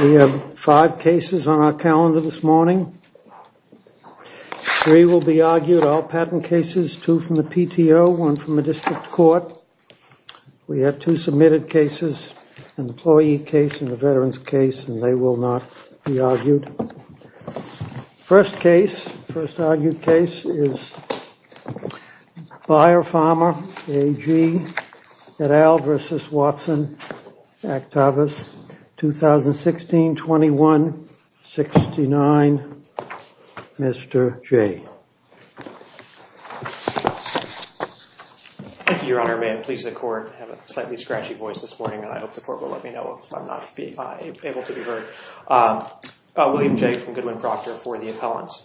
We have five cases on our calendar this morning. Three will be argued, all patent cases, two from the PTO, one from the district court. We have two submitted cases, an employee case and a veteran's case, and they will not be argued. And first case, first argued case is Bayer Pharma AG et al. v. Watson, Actavis, 2016-21-69. Mr. Jay. Thank you, Your Honor. May it please the court. I have a slightly scratchy voice this morning, and I hope the court will let me know if I'm not able to be heard. William Jay from Goodwin-Proctor for the appellants.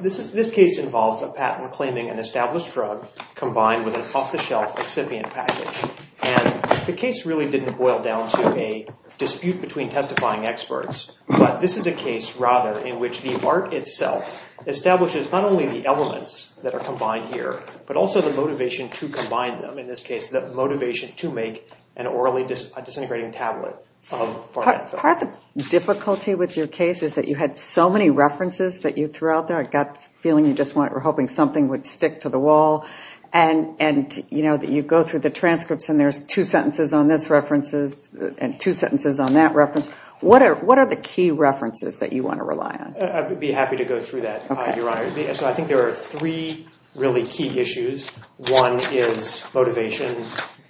This case involves a patent claiming an established drug combined with an off-the-shelf excipient package. And the case really didn't boil down to a dispute between testifying experts, but this is a case, rather, in which the art itself establishes not only the elements that are combined here, but also the motivation to combine them, in this case, the motivation to make an orally disintegrating tablet of pharmaceuticals. Part of the difficulty with your case is that you had so many references that you threw out there. I got the feeling you just were hoping something would stick to the wall, and that you go through the transcripts and there's two sentences on this reference and two sentences on that reference. What are the key references that you want to rely on? I would be happy to go through that, Your Honor. I think there are three really key issues. One is motivation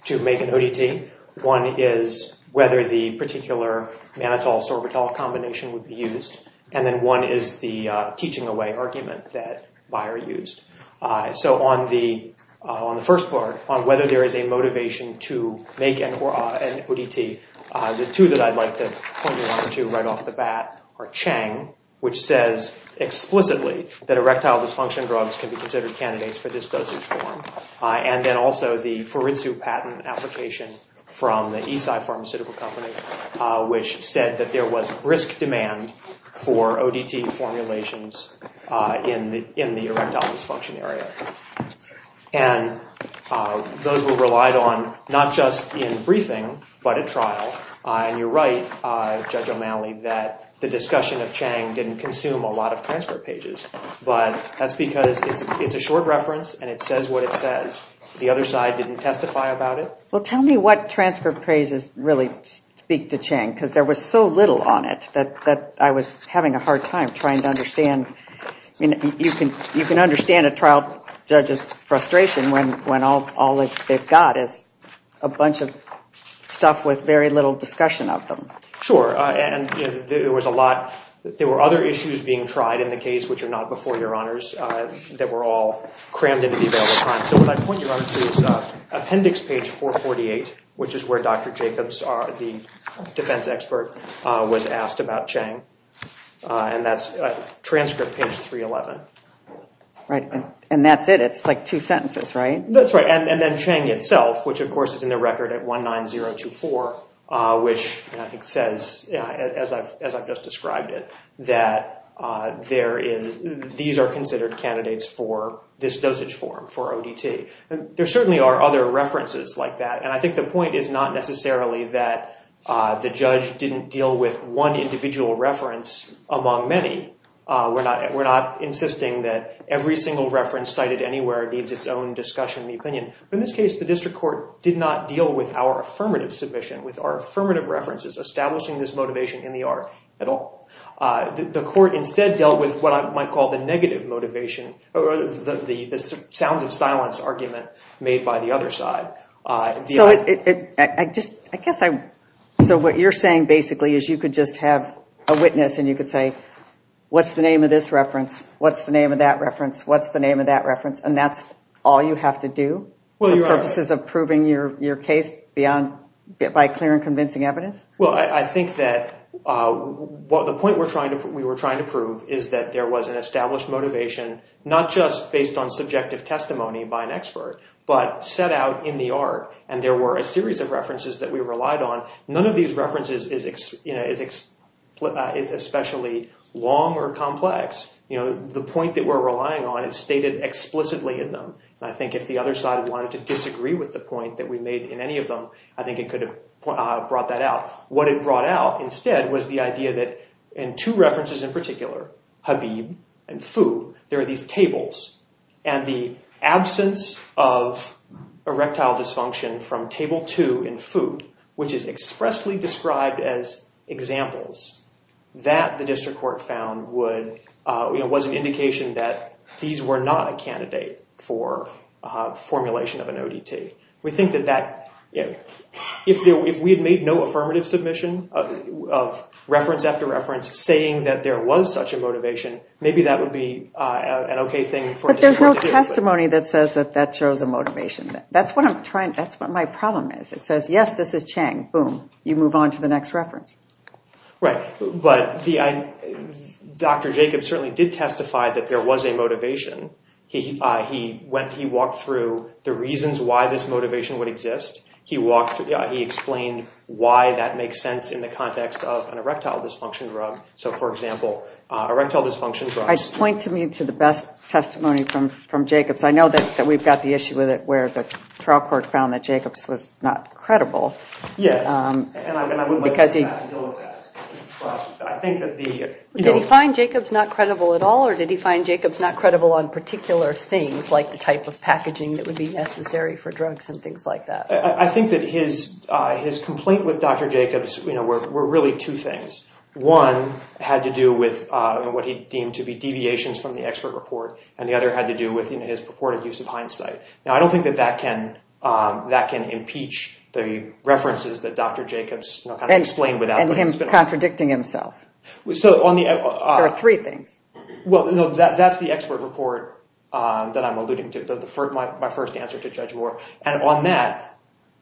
to make an ODT. One is whether the particular mannitol-sorbitol combination would be used. And then one is the teaching away argument that Beyer used. So on the first part, on whether there is a motivation to make an ODT, the two that I'd like to point you onto right off the bat are Chang, which says explicitly that erectile dysfunction drugs can be considered candidates for this dosage form. And then also the Furitsu patent application from the Esai Pharmaceutical Company, which said that there was brisk demand for ODT formulations in the erectile dysfunction area. And those were relied on not just in briefing, but at trial, and you're right, Judge O'Malley, that the discussion of Chang didn't consume a lot of transcript pages. But that's because it's a short reference, and it says what it says. The other side didn't testify about it. Well, tell me what transcript pages really speak to Chang, because there was so little on it that I was having a hard time trying to understand. You can understand a trial judge's frustration when all they've got is a bunch of stuff with very little discussion of them. Sure, and there were other issues being tried in the case, which are not before your honors, that were all crammed into the available time. So what I'd point you onto is appendix page 448, which is where Dr. Jacobs, the defense expert, was asked about Chang, and that's transcript page 311. And that's it? It's like two sentences, right? That's right. And then Chang itself, which of course is in the record at 19024, which I think says, as I've just described it, that these are considered candidates for this dosage form for ODT. And there certainly are other references like that, and I think the point is not necessarily that the judge didn't deal with one individual reference among many. We're not insisting that every single reference cited anywhere needs its own discussion of In this case, the district court did not deal with our affirmative submission, with our affirmative references establishing this motivation in the art at all. The court instead dealt with what I might call the negative motivation, or the sounds of silence argument made by the other side. So what you're saying basically is you could just have a witness and you could say, what's the name of this reference? What's the name of that reference? What's the name of that reference? And that's all you have to do for purposes of proving your case by clear and convincing evidence? Well, I think that the point we were trying to prove is that there was an established motivation, not just based on subjective testimony by an expert, but set out in the art. And there were a series of references that we relied on. The point that we're relying on is stated explicitly in them. I think if the other side wanted to disagree with the point that we made in any of them, I think it could have brought that out. What it brought out instead was the idea that in two references in particular, Habib and Foo, there are these tables. And the absence of erectile dysfunction from table two in Foo, which is expressly described as examples, that the district court found was an indication that these were not a candidate for formulation of an ODT. We think that if we had made no affirmative submission of reference after reference saying that there was such a motivation, maybe that would be an OK thing for the district to do. But there's no testimony that says that that shows a motivation. That's what I'm trying. That's what my problem is. It says, yes, this is Chang. Boom. You move on to the next reference. Right. But Dr. Jacobs certainly did testify that there was a motivation. He walked through the reasons why this motivation would exist. He explained why that makes sense in the context of an erectile dysfunction drug. So for example, erectile dysfunction drugs. I'd point to me to the best testimony from Jacobs. I know that we've got the issue with it where the trial court found that Jacobs was not credible. Yes. And I wouldn't like to go back and deal with that. I think that the- Did he find Jacobs not credible at all, or did he find Jacobs not credible on particular things, like the type of packaging that would be necessary for drugs and things like that? I think that his complaint with Dr. Jacobs were really two things. One had to do with what he deemed to be deviations from the expert report, and the other had to do with his purported use of hindsight. Now, I don't think that that can impeach the references that Dr. Jacobs explained without putting a spin on it. And him contradicting himself. There are three things. Well, that's the expert report that I'm alluding to, my first answer to Judge Moore. And on that,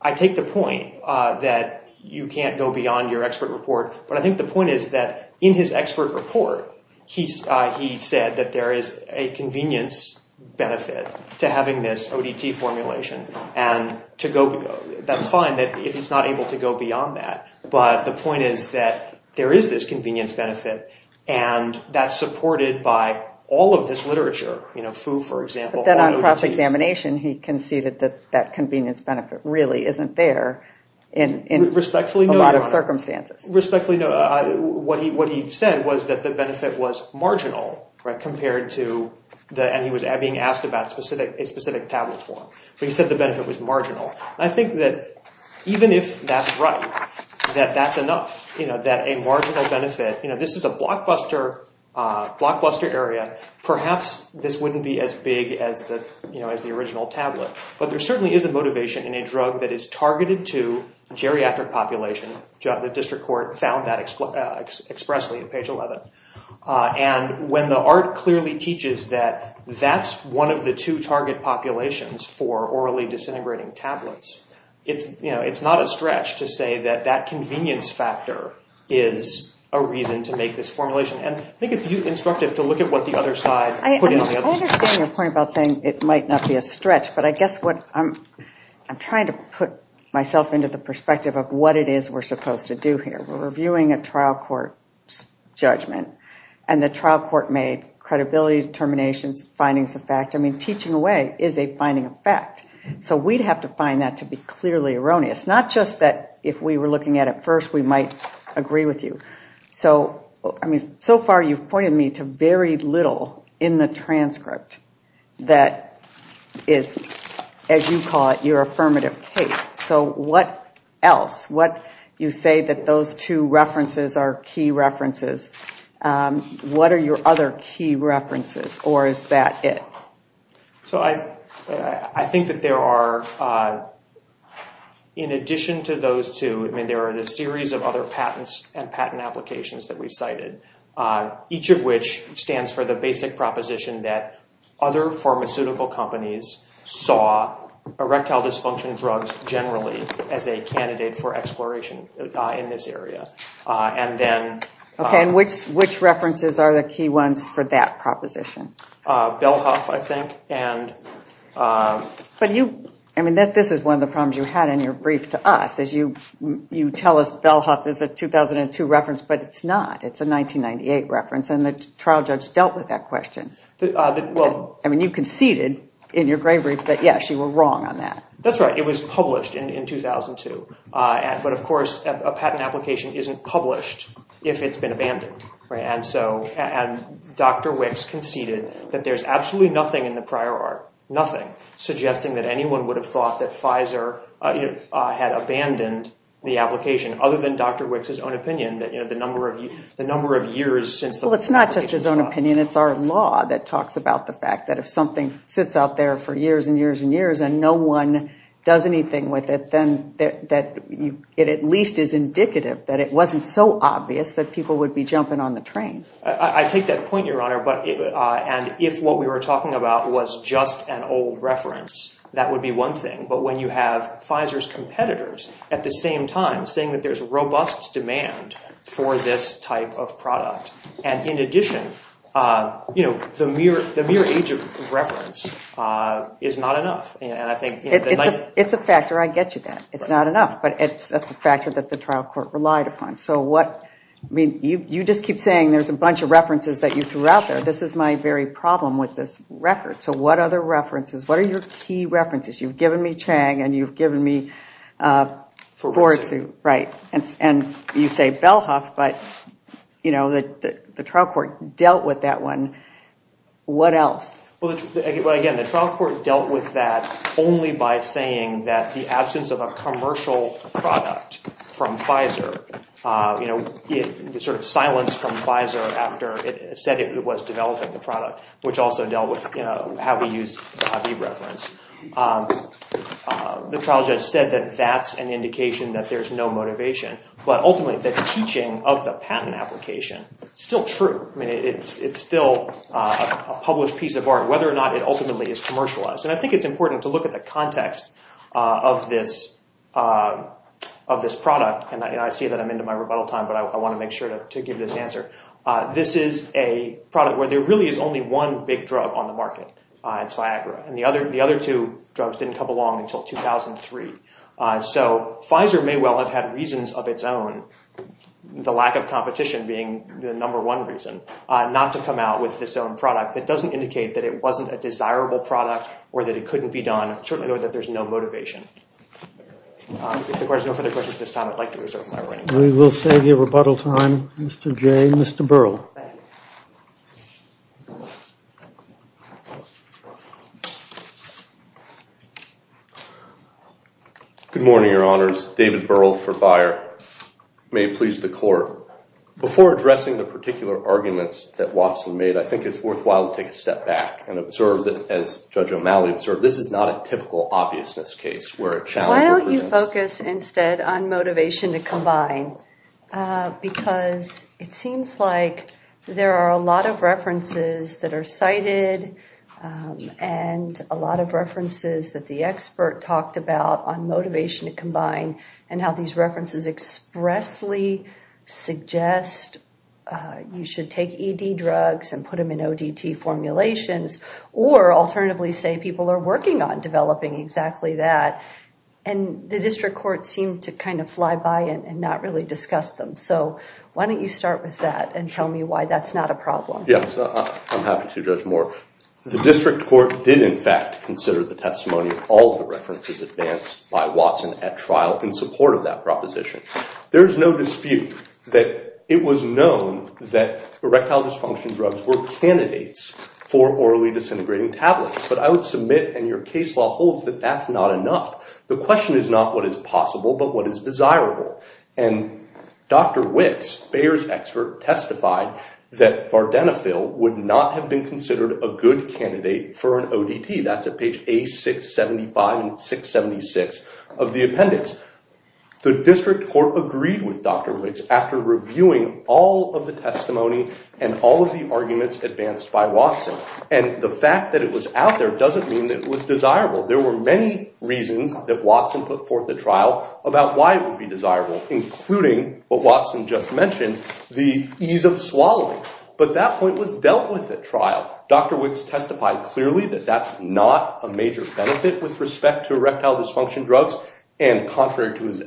I take the point that you can't go beyond your expert report, but I think the point is that in his expert report, he said that there is a convenience benefit to having this ODT formulation, and to go- that's fine if he's not able to go beyond that. But the point is that there is this convenience benefit, and that's supported by all of this literature. You know, Foo, for example- But then on cross-examination, he conceded that that convenience benefit really isn't there in a lot of circumstances. Respectfully, no. What he said was that the benefit was marginal, compared to- and he was being asked about a specific tablet form, but he said the benefit was marginal. I think that even if that's right, that that's enough, that a marginal benefit- you know, this is a blockbuster area, perhaps this wouldn't be as big as the original tablet. But there certainly is a motivation in a drug that is targeted to a geriatric population, and the district court found that expressly at page 11. And when the art clearly teaches that that's one of the two target populations for orally disintegrating tablets, it's not a stretch to say that that convenience factor is a reason to make this formulation. And I think it's instructive to look at what the other side put in the other- I understand your point about saying it might not be a stretch, but I guess what I'm trying to put myself into the perspective of what it is we're supposed to do here. We're reviewing a trial court's judgment, and the trial court made credibility, determinations, findings of fact. I mean, teaching away is a finding of fact. So we'd have to find that to be clearly erroneous. Not just that if we were looking at it first, we might agree with you. So I mean, so far you've pointed me to very little in the transcript that is, as you call it, your affirmative case. So what else? What you say that those two references are key references. What are your other key references, or is that it? So I think that there are, in addition to those two, I mean, there are a series of other patents and patent applications that we've cited, each of which stands for the basic health dysfunction drugs generally as a candidate for exploration in this area. And then- Okay. And which references are the key ones for that proposition? Belhoff, I think, and- But you, I mean, this is one of the problems you had in your brief to us, is you tell us Belhoff is a 2002 reference, but it's not. It's a 1998 reference, and the trial judge dealt with that question. Well- I mean, you conceded in your gray brief that, yes, you were wrong on that. That's right. It was published in 2002. But of course, a patent application isn't published if it's been abandoned, right? And so, and Dr. Wicks conceded that there's absolutely nothing in the prior art, nothing, suggesting that anyone would have thought that Pfizer had abandoned the application other than Dr. Wicks' own opinion that, you know, the number of years since the- Well, it's not just his own opinion. I mean, it's our law that talks about the fact that if something sits out there for years and years and years and no one does anything with it, then it at least is indicative that it wasn't so obvious that people would be jumping on the train. I take that point, Your Honor, and if what we were talking about was just an old reference, that would be one thing. But when you have Pfizer's competitors at the same time saying that there's robust demand for this type of product, and in addition, you know, the mere age of reference is not enough. And I think- It's a factor. I get you that. It's not enough. But that's a factor that the trial court relied upon. So what- I mean, you just keep saying there's a bunch of references that you threw out there. This is my very problem with this record. So what other references? What are your key references? You've given me Chang and you've given me Foritsu, right? And you say Bellhoff, but, you know, the trial court dealt with that one. What else? Well, again, the trial court dealt with that only by saying that the absence of a commercial product from Pfizer, you know, the sort of silence from Pfizer after it said it was developing the product, which also dealt with, you know, how we use the reference. The trial judge said that that's an indication that there's no motivation. But ultimately, the teaching of the patent application, still true. I mean, it's still a published piece of art, whether or not it ultimately is commercialized. And I think it's important to look at the context of this product. And I see that I'm into my rebuttal time, but I want to make sure to give this answer. This is a product where there really is only one big drug on the market. It's Viagra. And the other two drugs didn't come along until 2003. So Pfizer may well have had reasons of its own, the lack of competition being the number one reason, not to come out with this own product that doesn't indicate that it wasn't a desirable product or that it couldn't be done, certainly knowing that there's no motivation. If the court has no further questions at this time, I'd like to reserve my right. We will save your rebuttal time, Mr. Jay. Mr. Burrell. Good morning, Your Honors. David Burrell for Beyer. May it please the court. Before addressing the particular arguments that Watson made, I think it's worthwhile to take a step back and observe that, as Judge O'Malley observed, this is not a typical obviousness case where a challenge represents- Because it seems like there are a lot of references that are cited and a lot of references that the expert talked about on motivation to combine and how these references expressly suggest you should take ED drugs and put them in ODT formulations, or alternatively say people are working on developing exactly that. And the district court seemed to kind of fly by it and not really discuss them. So why don't you start with that and tell me why that's not a problem. Yes, I'm happy to, Judge Moore. The district court did in fact consider the testimony of all the references advanced by Watson at trial in support of that proposition. There's no dispute that it was known that erectile dysfunction drugs were candidates for orally disintegrating tablets. But I would submit, and your case law holds, that that's not enough. The question is not what is possible, but what is desirable. And Dr. Wicks, Bayer's expert, testified that Vardenafil would not have been considered a good candidate for an ODT. That's at page A675 and 676 of the appendix. The district court agreed with Dr. Wicks after reviewing all of the testimony and all of the arguments advanced by Watson. And the fact that it was out there doesn't mean that it was desirable. There were many reasons that Watson put forth at trial about why it would be desirable, including what Watson just mentioned, the ease of swallowing. But that point was dealt with at trial. Dr. Wicks testified clearly that that's not a major benefit with respect to erectile dysfunction drugs. And contrary to his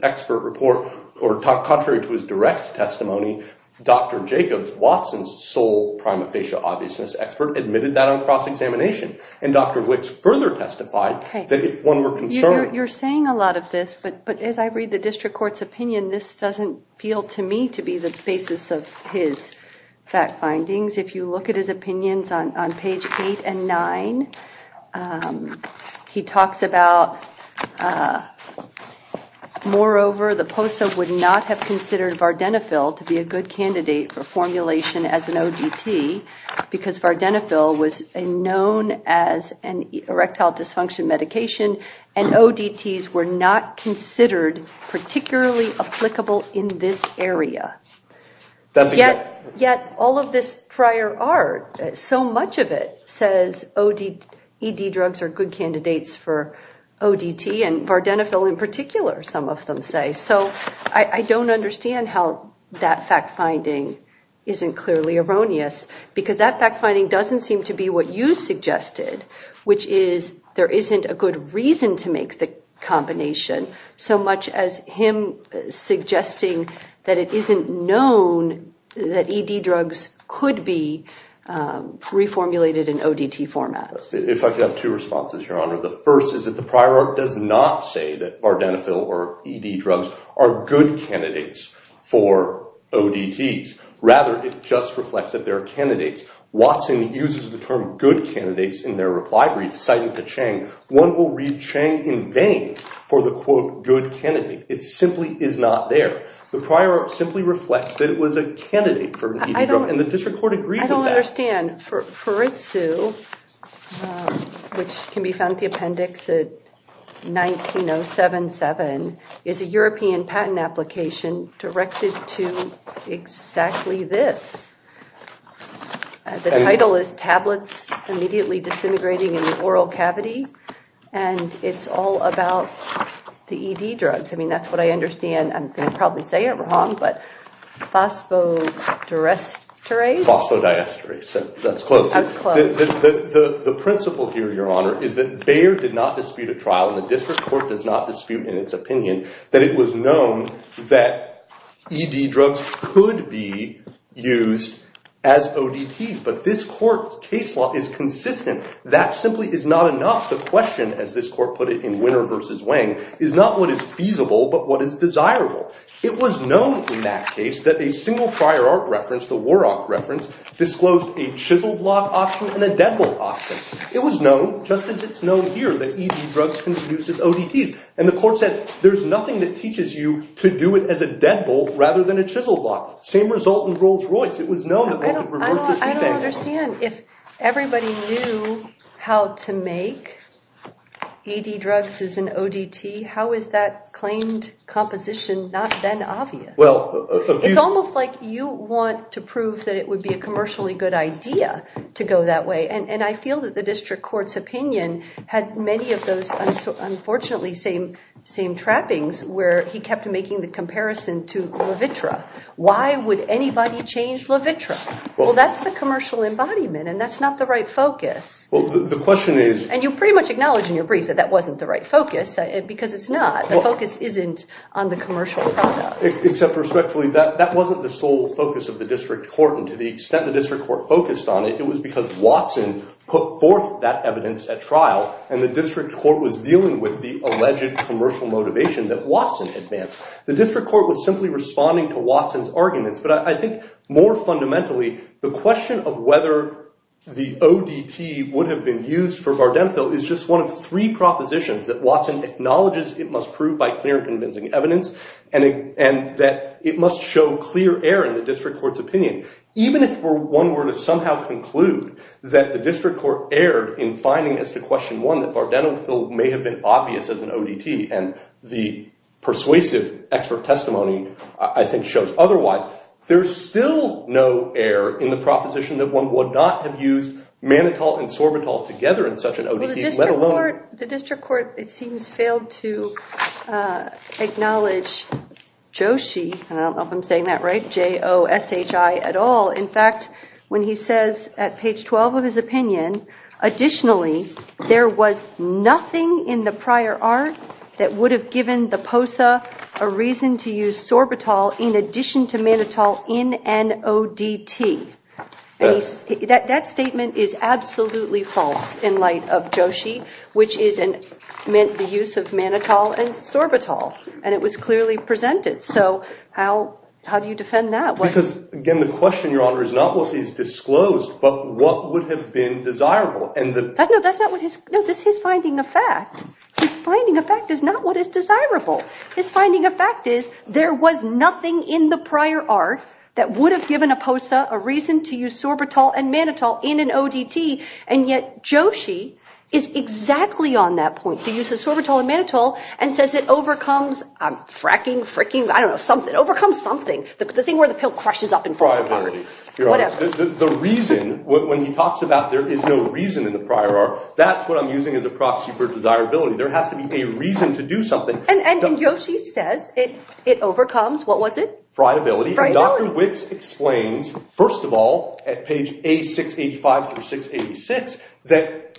direct testimony, Dr. Jacobs, Watson's sole prima facie obviousness expert, admitted that on cross-examination. And Dr. Wicks further testified that if one were concerned... You're saying a lot of this, but as I read the district court's opinion, this doesn't feel to me to be the basis of his fact findings. If you look at his opinions on page eight and nine, he talks about, moreover, the POSA would not have considered Vardenafil to be a good candidate for formulation as an ODT because Vardenafil was known as an erectile dysfunction medication, and ODTs were not considered particularly applicable in this area. Yet all of this prior art, so much of it says ED drugs are good candidates for ODT and Vardenafil in particular, some of them say. So I don't understand how that fact finding isn't clearly erroneous. Because that fact finding doesn't seem to be what you suggested, which is there isn't a good reason to make the combination, so much as him suggesting that it isn't known that ED drugs could be reformulated in ODT format. The first is that the prior art does not say that Vardenafil or ED drugs are good candidates for ODTs. Rather, it just reflects that there are candidates. Watson uses the term good candidates in their reply brief citing to Chang. One will read Chang in vain for the quote good candidate. It simply is not there. The prior art simply reflects that it was a candidate for an ED drug, and the district court agreed with that. I don't understand, Foritsu, which can be found at the appendix at 19077, is a European patent application directed to exactly this. The title is tablets immediately disintegrating in the oral cavity, and it's all about the ED drugs. I mean, that's what I understand. I'm going to probably say it wrong, but phosphodiesterase? Phosphodiesterase. That's close. That's close. The principle here, Your Honor, is that Bayer did not dispute a trial, and the district court does not dispute in its opinion that it was known that ED drugs could be used as ODTs. But this court's case law is consistent. That simply is not enough. The question, as this court put it in Winner v. Wang, is not what is feasible, but what is desirable. It was known in that case that a single prior art reference, the Warhawk reference, disclosed a chisel block option and a deadbolt option. It was known, just as it's known here, that ED drugs can be used as ODTs. And the court said, there's nothing that teaches you to do it as a deadbolt rather than a chisel block. Same result in Rolls-Royce. It was known that they could reverse the sweep angle. I don't understand. If everybody knew how to make ED drugs as an ODT, how is that claimed composition not then obvious? Well, a few- It's almost like you want to prove that it would be a commercially good idea to go that way. And I feel that the district court's opinion had many of those, unfortunately, same trappings where he kept making the comparison to Levitra. Why would anybody change Levitra? Well, that's the commercial embodiment, and that's not the right focus. The question is- And you pretty much acknowledged in your brief that that wasn't the right focus, because it's not. The focus isn't on the commercial product. Except respectfully, that wasn't the sole focus of the district court. And to the extent the district court focused on it, it was because Watson put forth that evidence at trial, and the district court was dealing with the alleged commercial motivation that Watson advanced. The district court was simply responding to Watson's arguments, but I think more fundamentally, the question of whether the ODT would have been used for Vardenafil is just one of three propositions that Watson acknowledges it must prove by clear and convincing evidence, and that it must show clear error in the district court's opinion. Even if one were to somehow conclude that the district court erred in finding as to question one, that Vardenafil may have been obvious as an ODT, and the persuasive expert testimony, I think, shows otherwise, there's still no error in the proposition that one would not have used mannitol and sorbitol together in such an ODT, let alone- The district court, it seems, failed to acknowledge Joshi, and I don't know if I'm saying that right, J-O-S-H-I at all. In fact, when he says at page 12 of his opinion, additionally, there was nothing in the prior art that would have given the POSA a reason to use sorbitol in addition to mannitol in an ODT. That statement is absolutely false in light of Joshi, which is the use of mannitol and sorbitol, and it was clearly presented, so how do you defend that? Because, again, the question, Your Honor, is not what is disclosed, but what would have been desirable. No, that's not what his- No, that's his finding of fact. His finding of fact is not what is desirable. His finding of fact is there was nothing in the prior art that would have given a POSA a reason to use sorbitol and mannitol in an ODT, and yet Joshi is exactly on that point, the use of sorbitol and mannitol, and says it overcomes- I'm fracking, fricking, I don't know, something. It overcomes something. The thing where the pill crushes up and- Friability, Your Honor. The reason, when he talks about there is no reason in the prior art, that's what I'm using as a proxy for desirability. There has to be a reason to do something- And Joshi says it overcomes, what was it? Friability. Friability. And Dr. Wicks explains, first of all, at page A685 through 686, that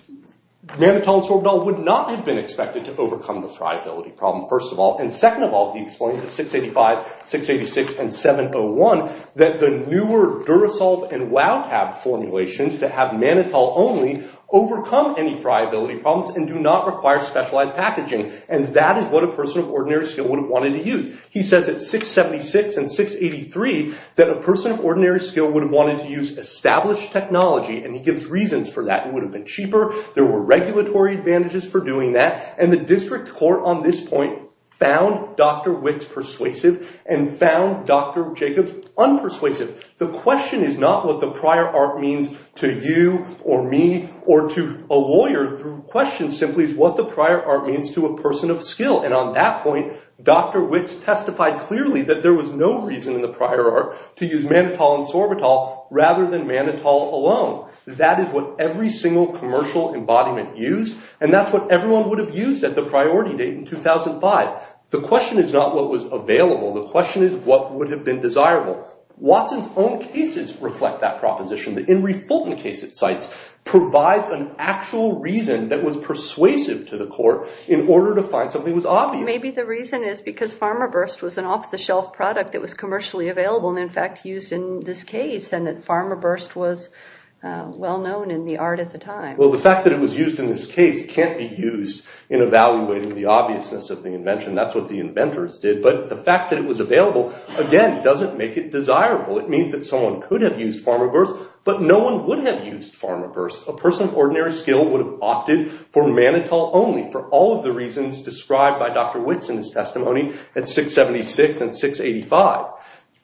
mannitol and sorbitol would not have been expected to overcome the friability problem, first of all. And second of all, he explains at 685, 686, and 701, that the newer Durasolve and WowTab formulations that have mannitol only, overcome any friability problems and do not require specialized packaging, and that is what a person of ordinary skill would have wanted to use. He says at 676 and 683, that a person of ordinary skill would have wanted to use established technology, and he gives reasons for that, it would have been cheaper, there were regulatory advantages for doing that, and the district court on this point found Dr. Wicks persuasive and found Dr. Jacobs unpersuasive. The question is not what the prior art means to you or me or to a lawyer, the question simply is what the prior art means to a person of skill, and on that point, Dr. Wicks testified clearly that there was no reason in the prior art to use mannitol and sorbitol rather than mannitol alone. That is what every single commercial embodiment used, and that's what everyone would have used at the priority date in 2005. The question is not what was available, the question is what would have been desirable. Watson's own cases reflect that proposition, the Henry Fulton case it cites provides an actual reason that was persuasive to the court in order to find something that was obvious. Maybe the reason is because PharmaBurst was an off-the-shelf product that was commercially available and in fact used in this case, and that PharmaBurst was well-known in the art at the time. Well, the fact that it was used in this case can't be used in evaluating the obviousness of the invention. That's what the inventors did, but the fact that it was available, again, doesn't make it desirable. It means that someone could have used PharmaBurst, but no one would have used PharmaBurst. A person of ordinary skill would have opted for mannitol only for all of the reasons described by Dr. Witts in his testimony at 676 and 685.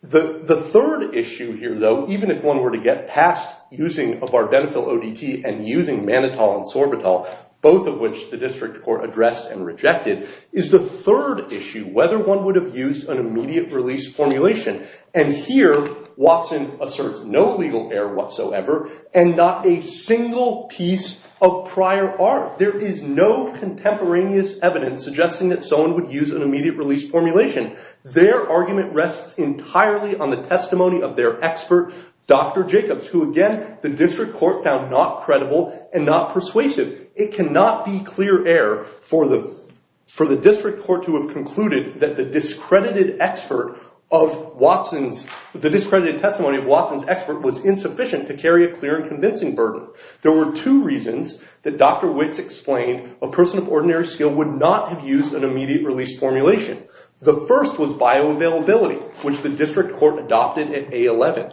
The third issue here, though, even if one were to get past using a Vardenafil ODT and using mannitol and sorbitol, both of which the district court addressed and rejected, is the third issue, whether one would have used an immediate release formulation. And here, Watson asserts no legal error whatsoever and not a single piece of prior art. There is no contemporaneous evidence suggesting that someone would use an immediate release formulation. Their argument rests entirely on the testimony of their expert, Dr. Jacobs, who, again, the district court found not credible and not persuasive. It cannot be clear error for the district court to have concluded that the discredited expert of Watson's, the discredited testimony of Watson's expert was insufficient to carry a clear and convincing burden. There were two reasons that Dr. Witts explained a person of ordinary skill would not have used an immediate release formulation. The first was bioavailability, which the district court adopted at A11.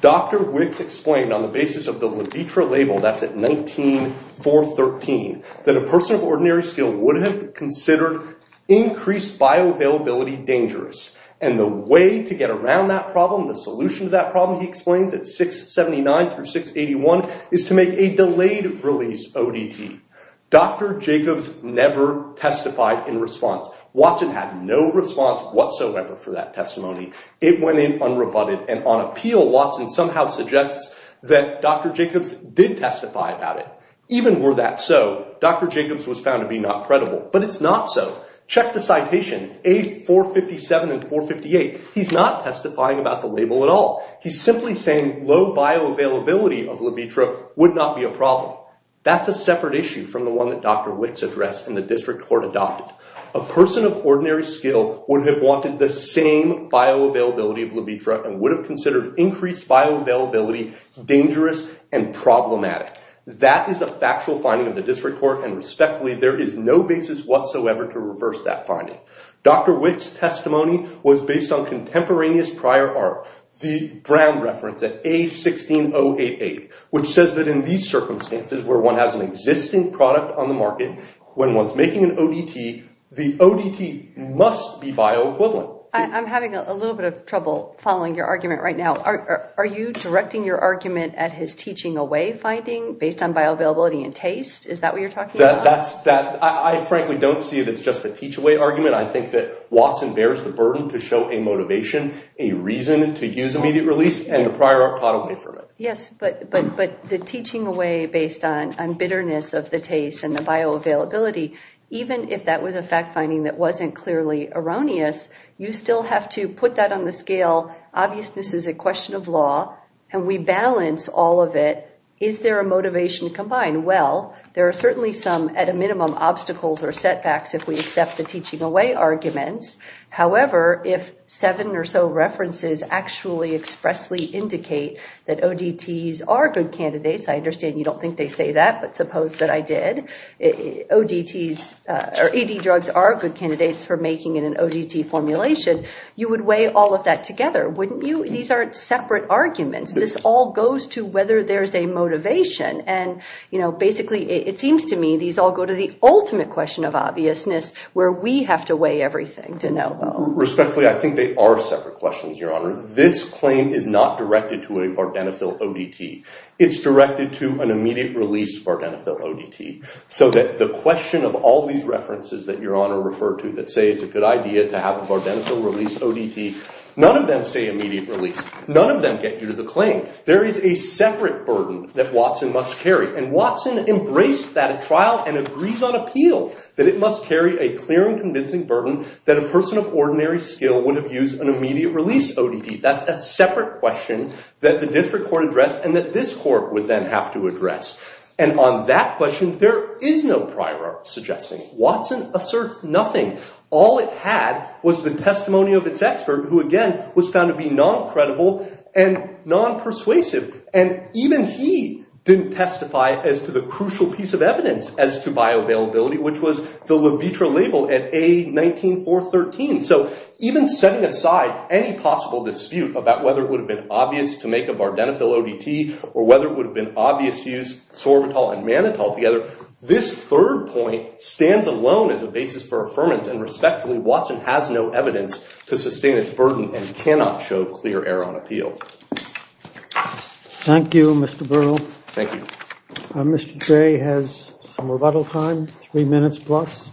Dr. Witts explained on the basis of the Levitra label, that's at 19413, that a person of ordinary skill would have considered increased bioavailability dangerous. And the way to get around that problem, the solution to that problem, he explains at 679 through 681, is to make a delayed release ODT. Dr. Jacobs never testified in response. Watson had no response whatsoever for that testimony. It went in unrebutted, and on appeal, Watson somehow suggests that Dr. Jacobs did testify about it. Even were that so, Dr. Jacobs was found to be not credible. But it's not so. Check the citation, A457 and 458. He's not testifying about the label at all. He's simply saying low bioavailability of Levitra would not be a problem. That's a separate issue from the one that Dr. Witts addressed and the district court adopted. A person of ordinary skill would have wanted the same bioavailability of Levitra and would have considered increased bioavailability dangerous and problematic. That is a factual finding of the district court, and respectfully, there is no basis whatsoever to reverse that finding. Dr. Witts' testimony was based on contemporaneous prior art. The Brown reference at A16088, which says that in these circumstances where one has an existing product on the market, when one's making an ODT, the ODT must be bioequivalent. I'm having a little bit of trouble following your argument right now. Are you directing your argument at his teaching away finding based on bioavailability and taste? Is that what you're talking about? I frankly don't see it as just a teach away argument. I think that Watson bears the burden to show a motivation, a reason to use immediate release, and the prior art pot away from it. Yes, but the teaching away based on bitterness of the taste and the bioavailability, even if that was a fact finding that wasn't clearly erroneous, you still have to put that on the scale. Obviousness is a question of law, and we balance all of it. Is there a motivation combined? Well, there are certainly some, at a minimum, obstacles or setbacks if we accept the teaching away arguments. However, if seven or so references actually expressly indicate that ODTs are good candidates, I understand you don't think they say that, but suppose that I did, ODTs or ED drugs are good candidates for making it an ODT formulation, you would weigh all of that together, wouldn't you? These aren't separate arguments. This all goes to whether there's a motivation, and basically, it seems to me, these all go to the ultimate question of obviousness, where we have to weigh everything, de novo. Respectfully, I think they are separate questions, Your Honor. This claim is not directed to a Vardenafil ODT. It's directed to an immediate release Vardenafil ODT, so that the question of all these references that Your Honor referred to that say it's a good idea to have a Vardenafil release ODT, none of them say immediate release. None of them get you to the claim. There is a separate burden that Watson must carry, and Watson embraced that at trial and agrees on appeal, that it must carry a clear and convincing burden that a person of ordinary skill would have used an immediate release ODT. That's a separate question that the district court addressed, and that this court would then have to address. And on that question, there is no prior suggesting. Watson asserts nothing. All it had was the testimony of its expert, who again, was found to be non-credible and non-persuasive, and even he didn't testify as to the crucial piece of evidence as to bioavailability, which was the Levitra label at A19413. So even setting aside any possible dispute about whether it would have been obvious to make a Vardenafil ODT, or whether it would have been obvious to use Sorbitol and Manitol together, this third point stands alone as a basis for affirmance, and respectfully, Watson has no evidence to sustain its burden and cannot show clear error on appeal. Thank you, Mr. Burrell. Thank you. Mr. J has some rebuttal time, three minutes plus.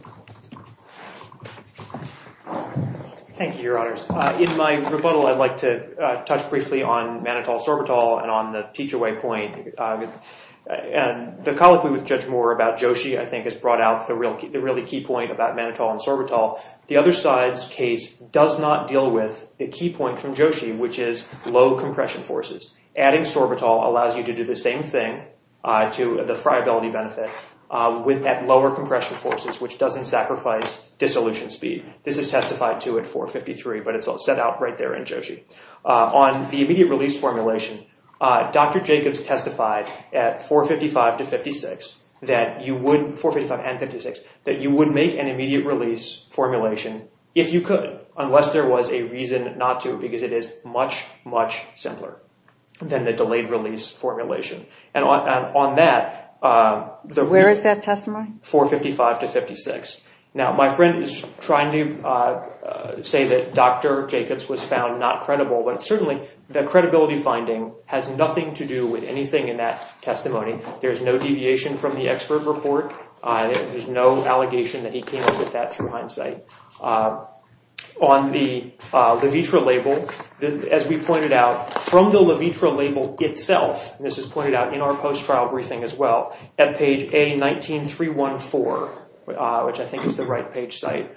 Thank you, Your Honors. In my rebuttal, I'd like to touch briefly on Manitol-Sorbitol and on the Peachaway point. And the colloquy with Judge Moore about Joshi, I think, has brought out the really key point about Manitol and Sorbitol. The other side's case does not deal with the key point from Joshi, which is low compression forces. Adding Sorbitol allows you to do the same thing to the friability benefit at lower compression forces, which doesn't sacrifice dissolution speed. This is testified to at 453, but it's all set out right there in Joshi. On the immediate release formulation, Dr. Jacobs testified at 455 and 56 that you would make an immediate release formulation if you could, unless there was a reason not to, because it is much, much simpler than the delayed release formulation. And on that, the- Where is that testimony? 455 to 56. Now, my friend is trying to say that Dr. Jacobs was found not credible, but certainly the credibility finding has nothing to do with anything in that testimony. There's no deviation from the expert report. There's no allegation that he came up with that through hindsight. On the Levitra label, as we pointed out, from the Levitra label itself, and this is pointed out in our post-trial briefing as well, at page A19314, which I think is the right page site,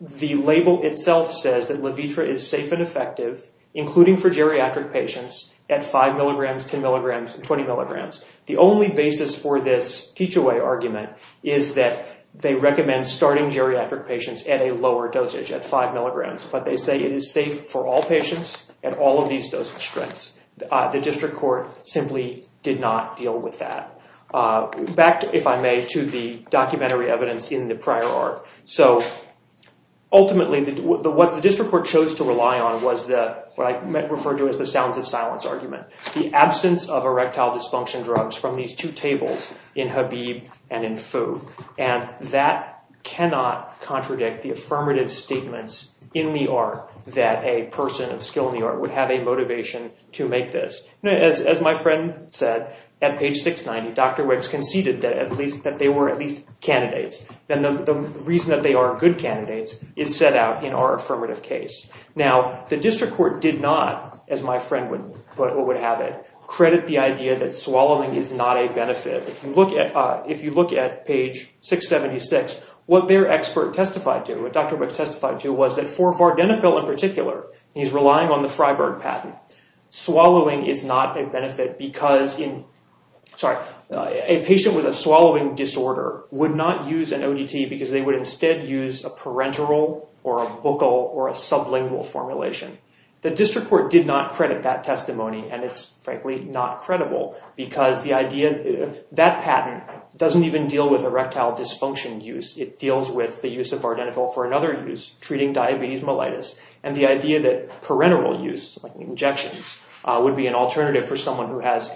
the label itself says that Levitra is safe and effective, including for geriatric patients, at 5 milligrams, 10 milligrams, and 20 milligrams. The only basis for this teach-away argument is that they recommend starting geriatric patients at a lower dosage, at 5 milligrams. But they say it is safe for all patients at all of these dosage strengths. The district court simply did not deal with that. Back, if I may, to the documentary evidence in the prior arc. So, ultimately, what the district court chose to rely on was the- what I refer to as the sounds of silence argument. The absence of erectile dysfunction drugs from these two tables, in Habib and in Fu. And that cannot contradict the affirmative statements in the arc that a person of skill in the art would have a motivation to make this. As my friend said, at page 690, Dr. Wicks conceded that at least- that they were at least candidates. And the reason that they are good candidates is set out in our affirmative case. Now, the district court did not, as my friend would have it, credit the idea that swallowing is not a benefit. If you look at page 676, what their expert testified to, what Dr. Wicks testified to was that for Vardenafil in particular, he's relying on the Freiberg patent. Swallowing is not a benefit because in- sorry, a patient with a swallowing disorder would not use an ODT because they would instead use a parenteral or a bocal or a sublingual formulation. The district court did not credit that testimony. And it's frankly not credible because the idea- that patent doesn't even deal with erectile dysfunction use. It deals with the use of Vardenafil for another use, treating diabetes mellitus. And the idea that parenteral use, like injections, would be an alternative for someone who has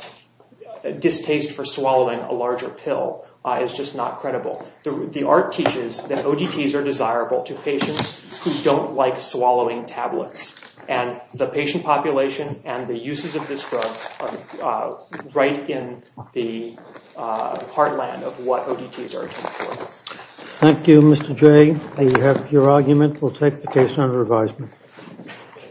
distaste for swallowing a larger pill is just not credible. The art teaches that ODTs are desirable to patients who don't like swallowing tablets. And the patient population and the uses of this drug are right in the heartland of what ODTs are. Thank you, Mr. Jay. You have your argument. We'll take the case under advisement.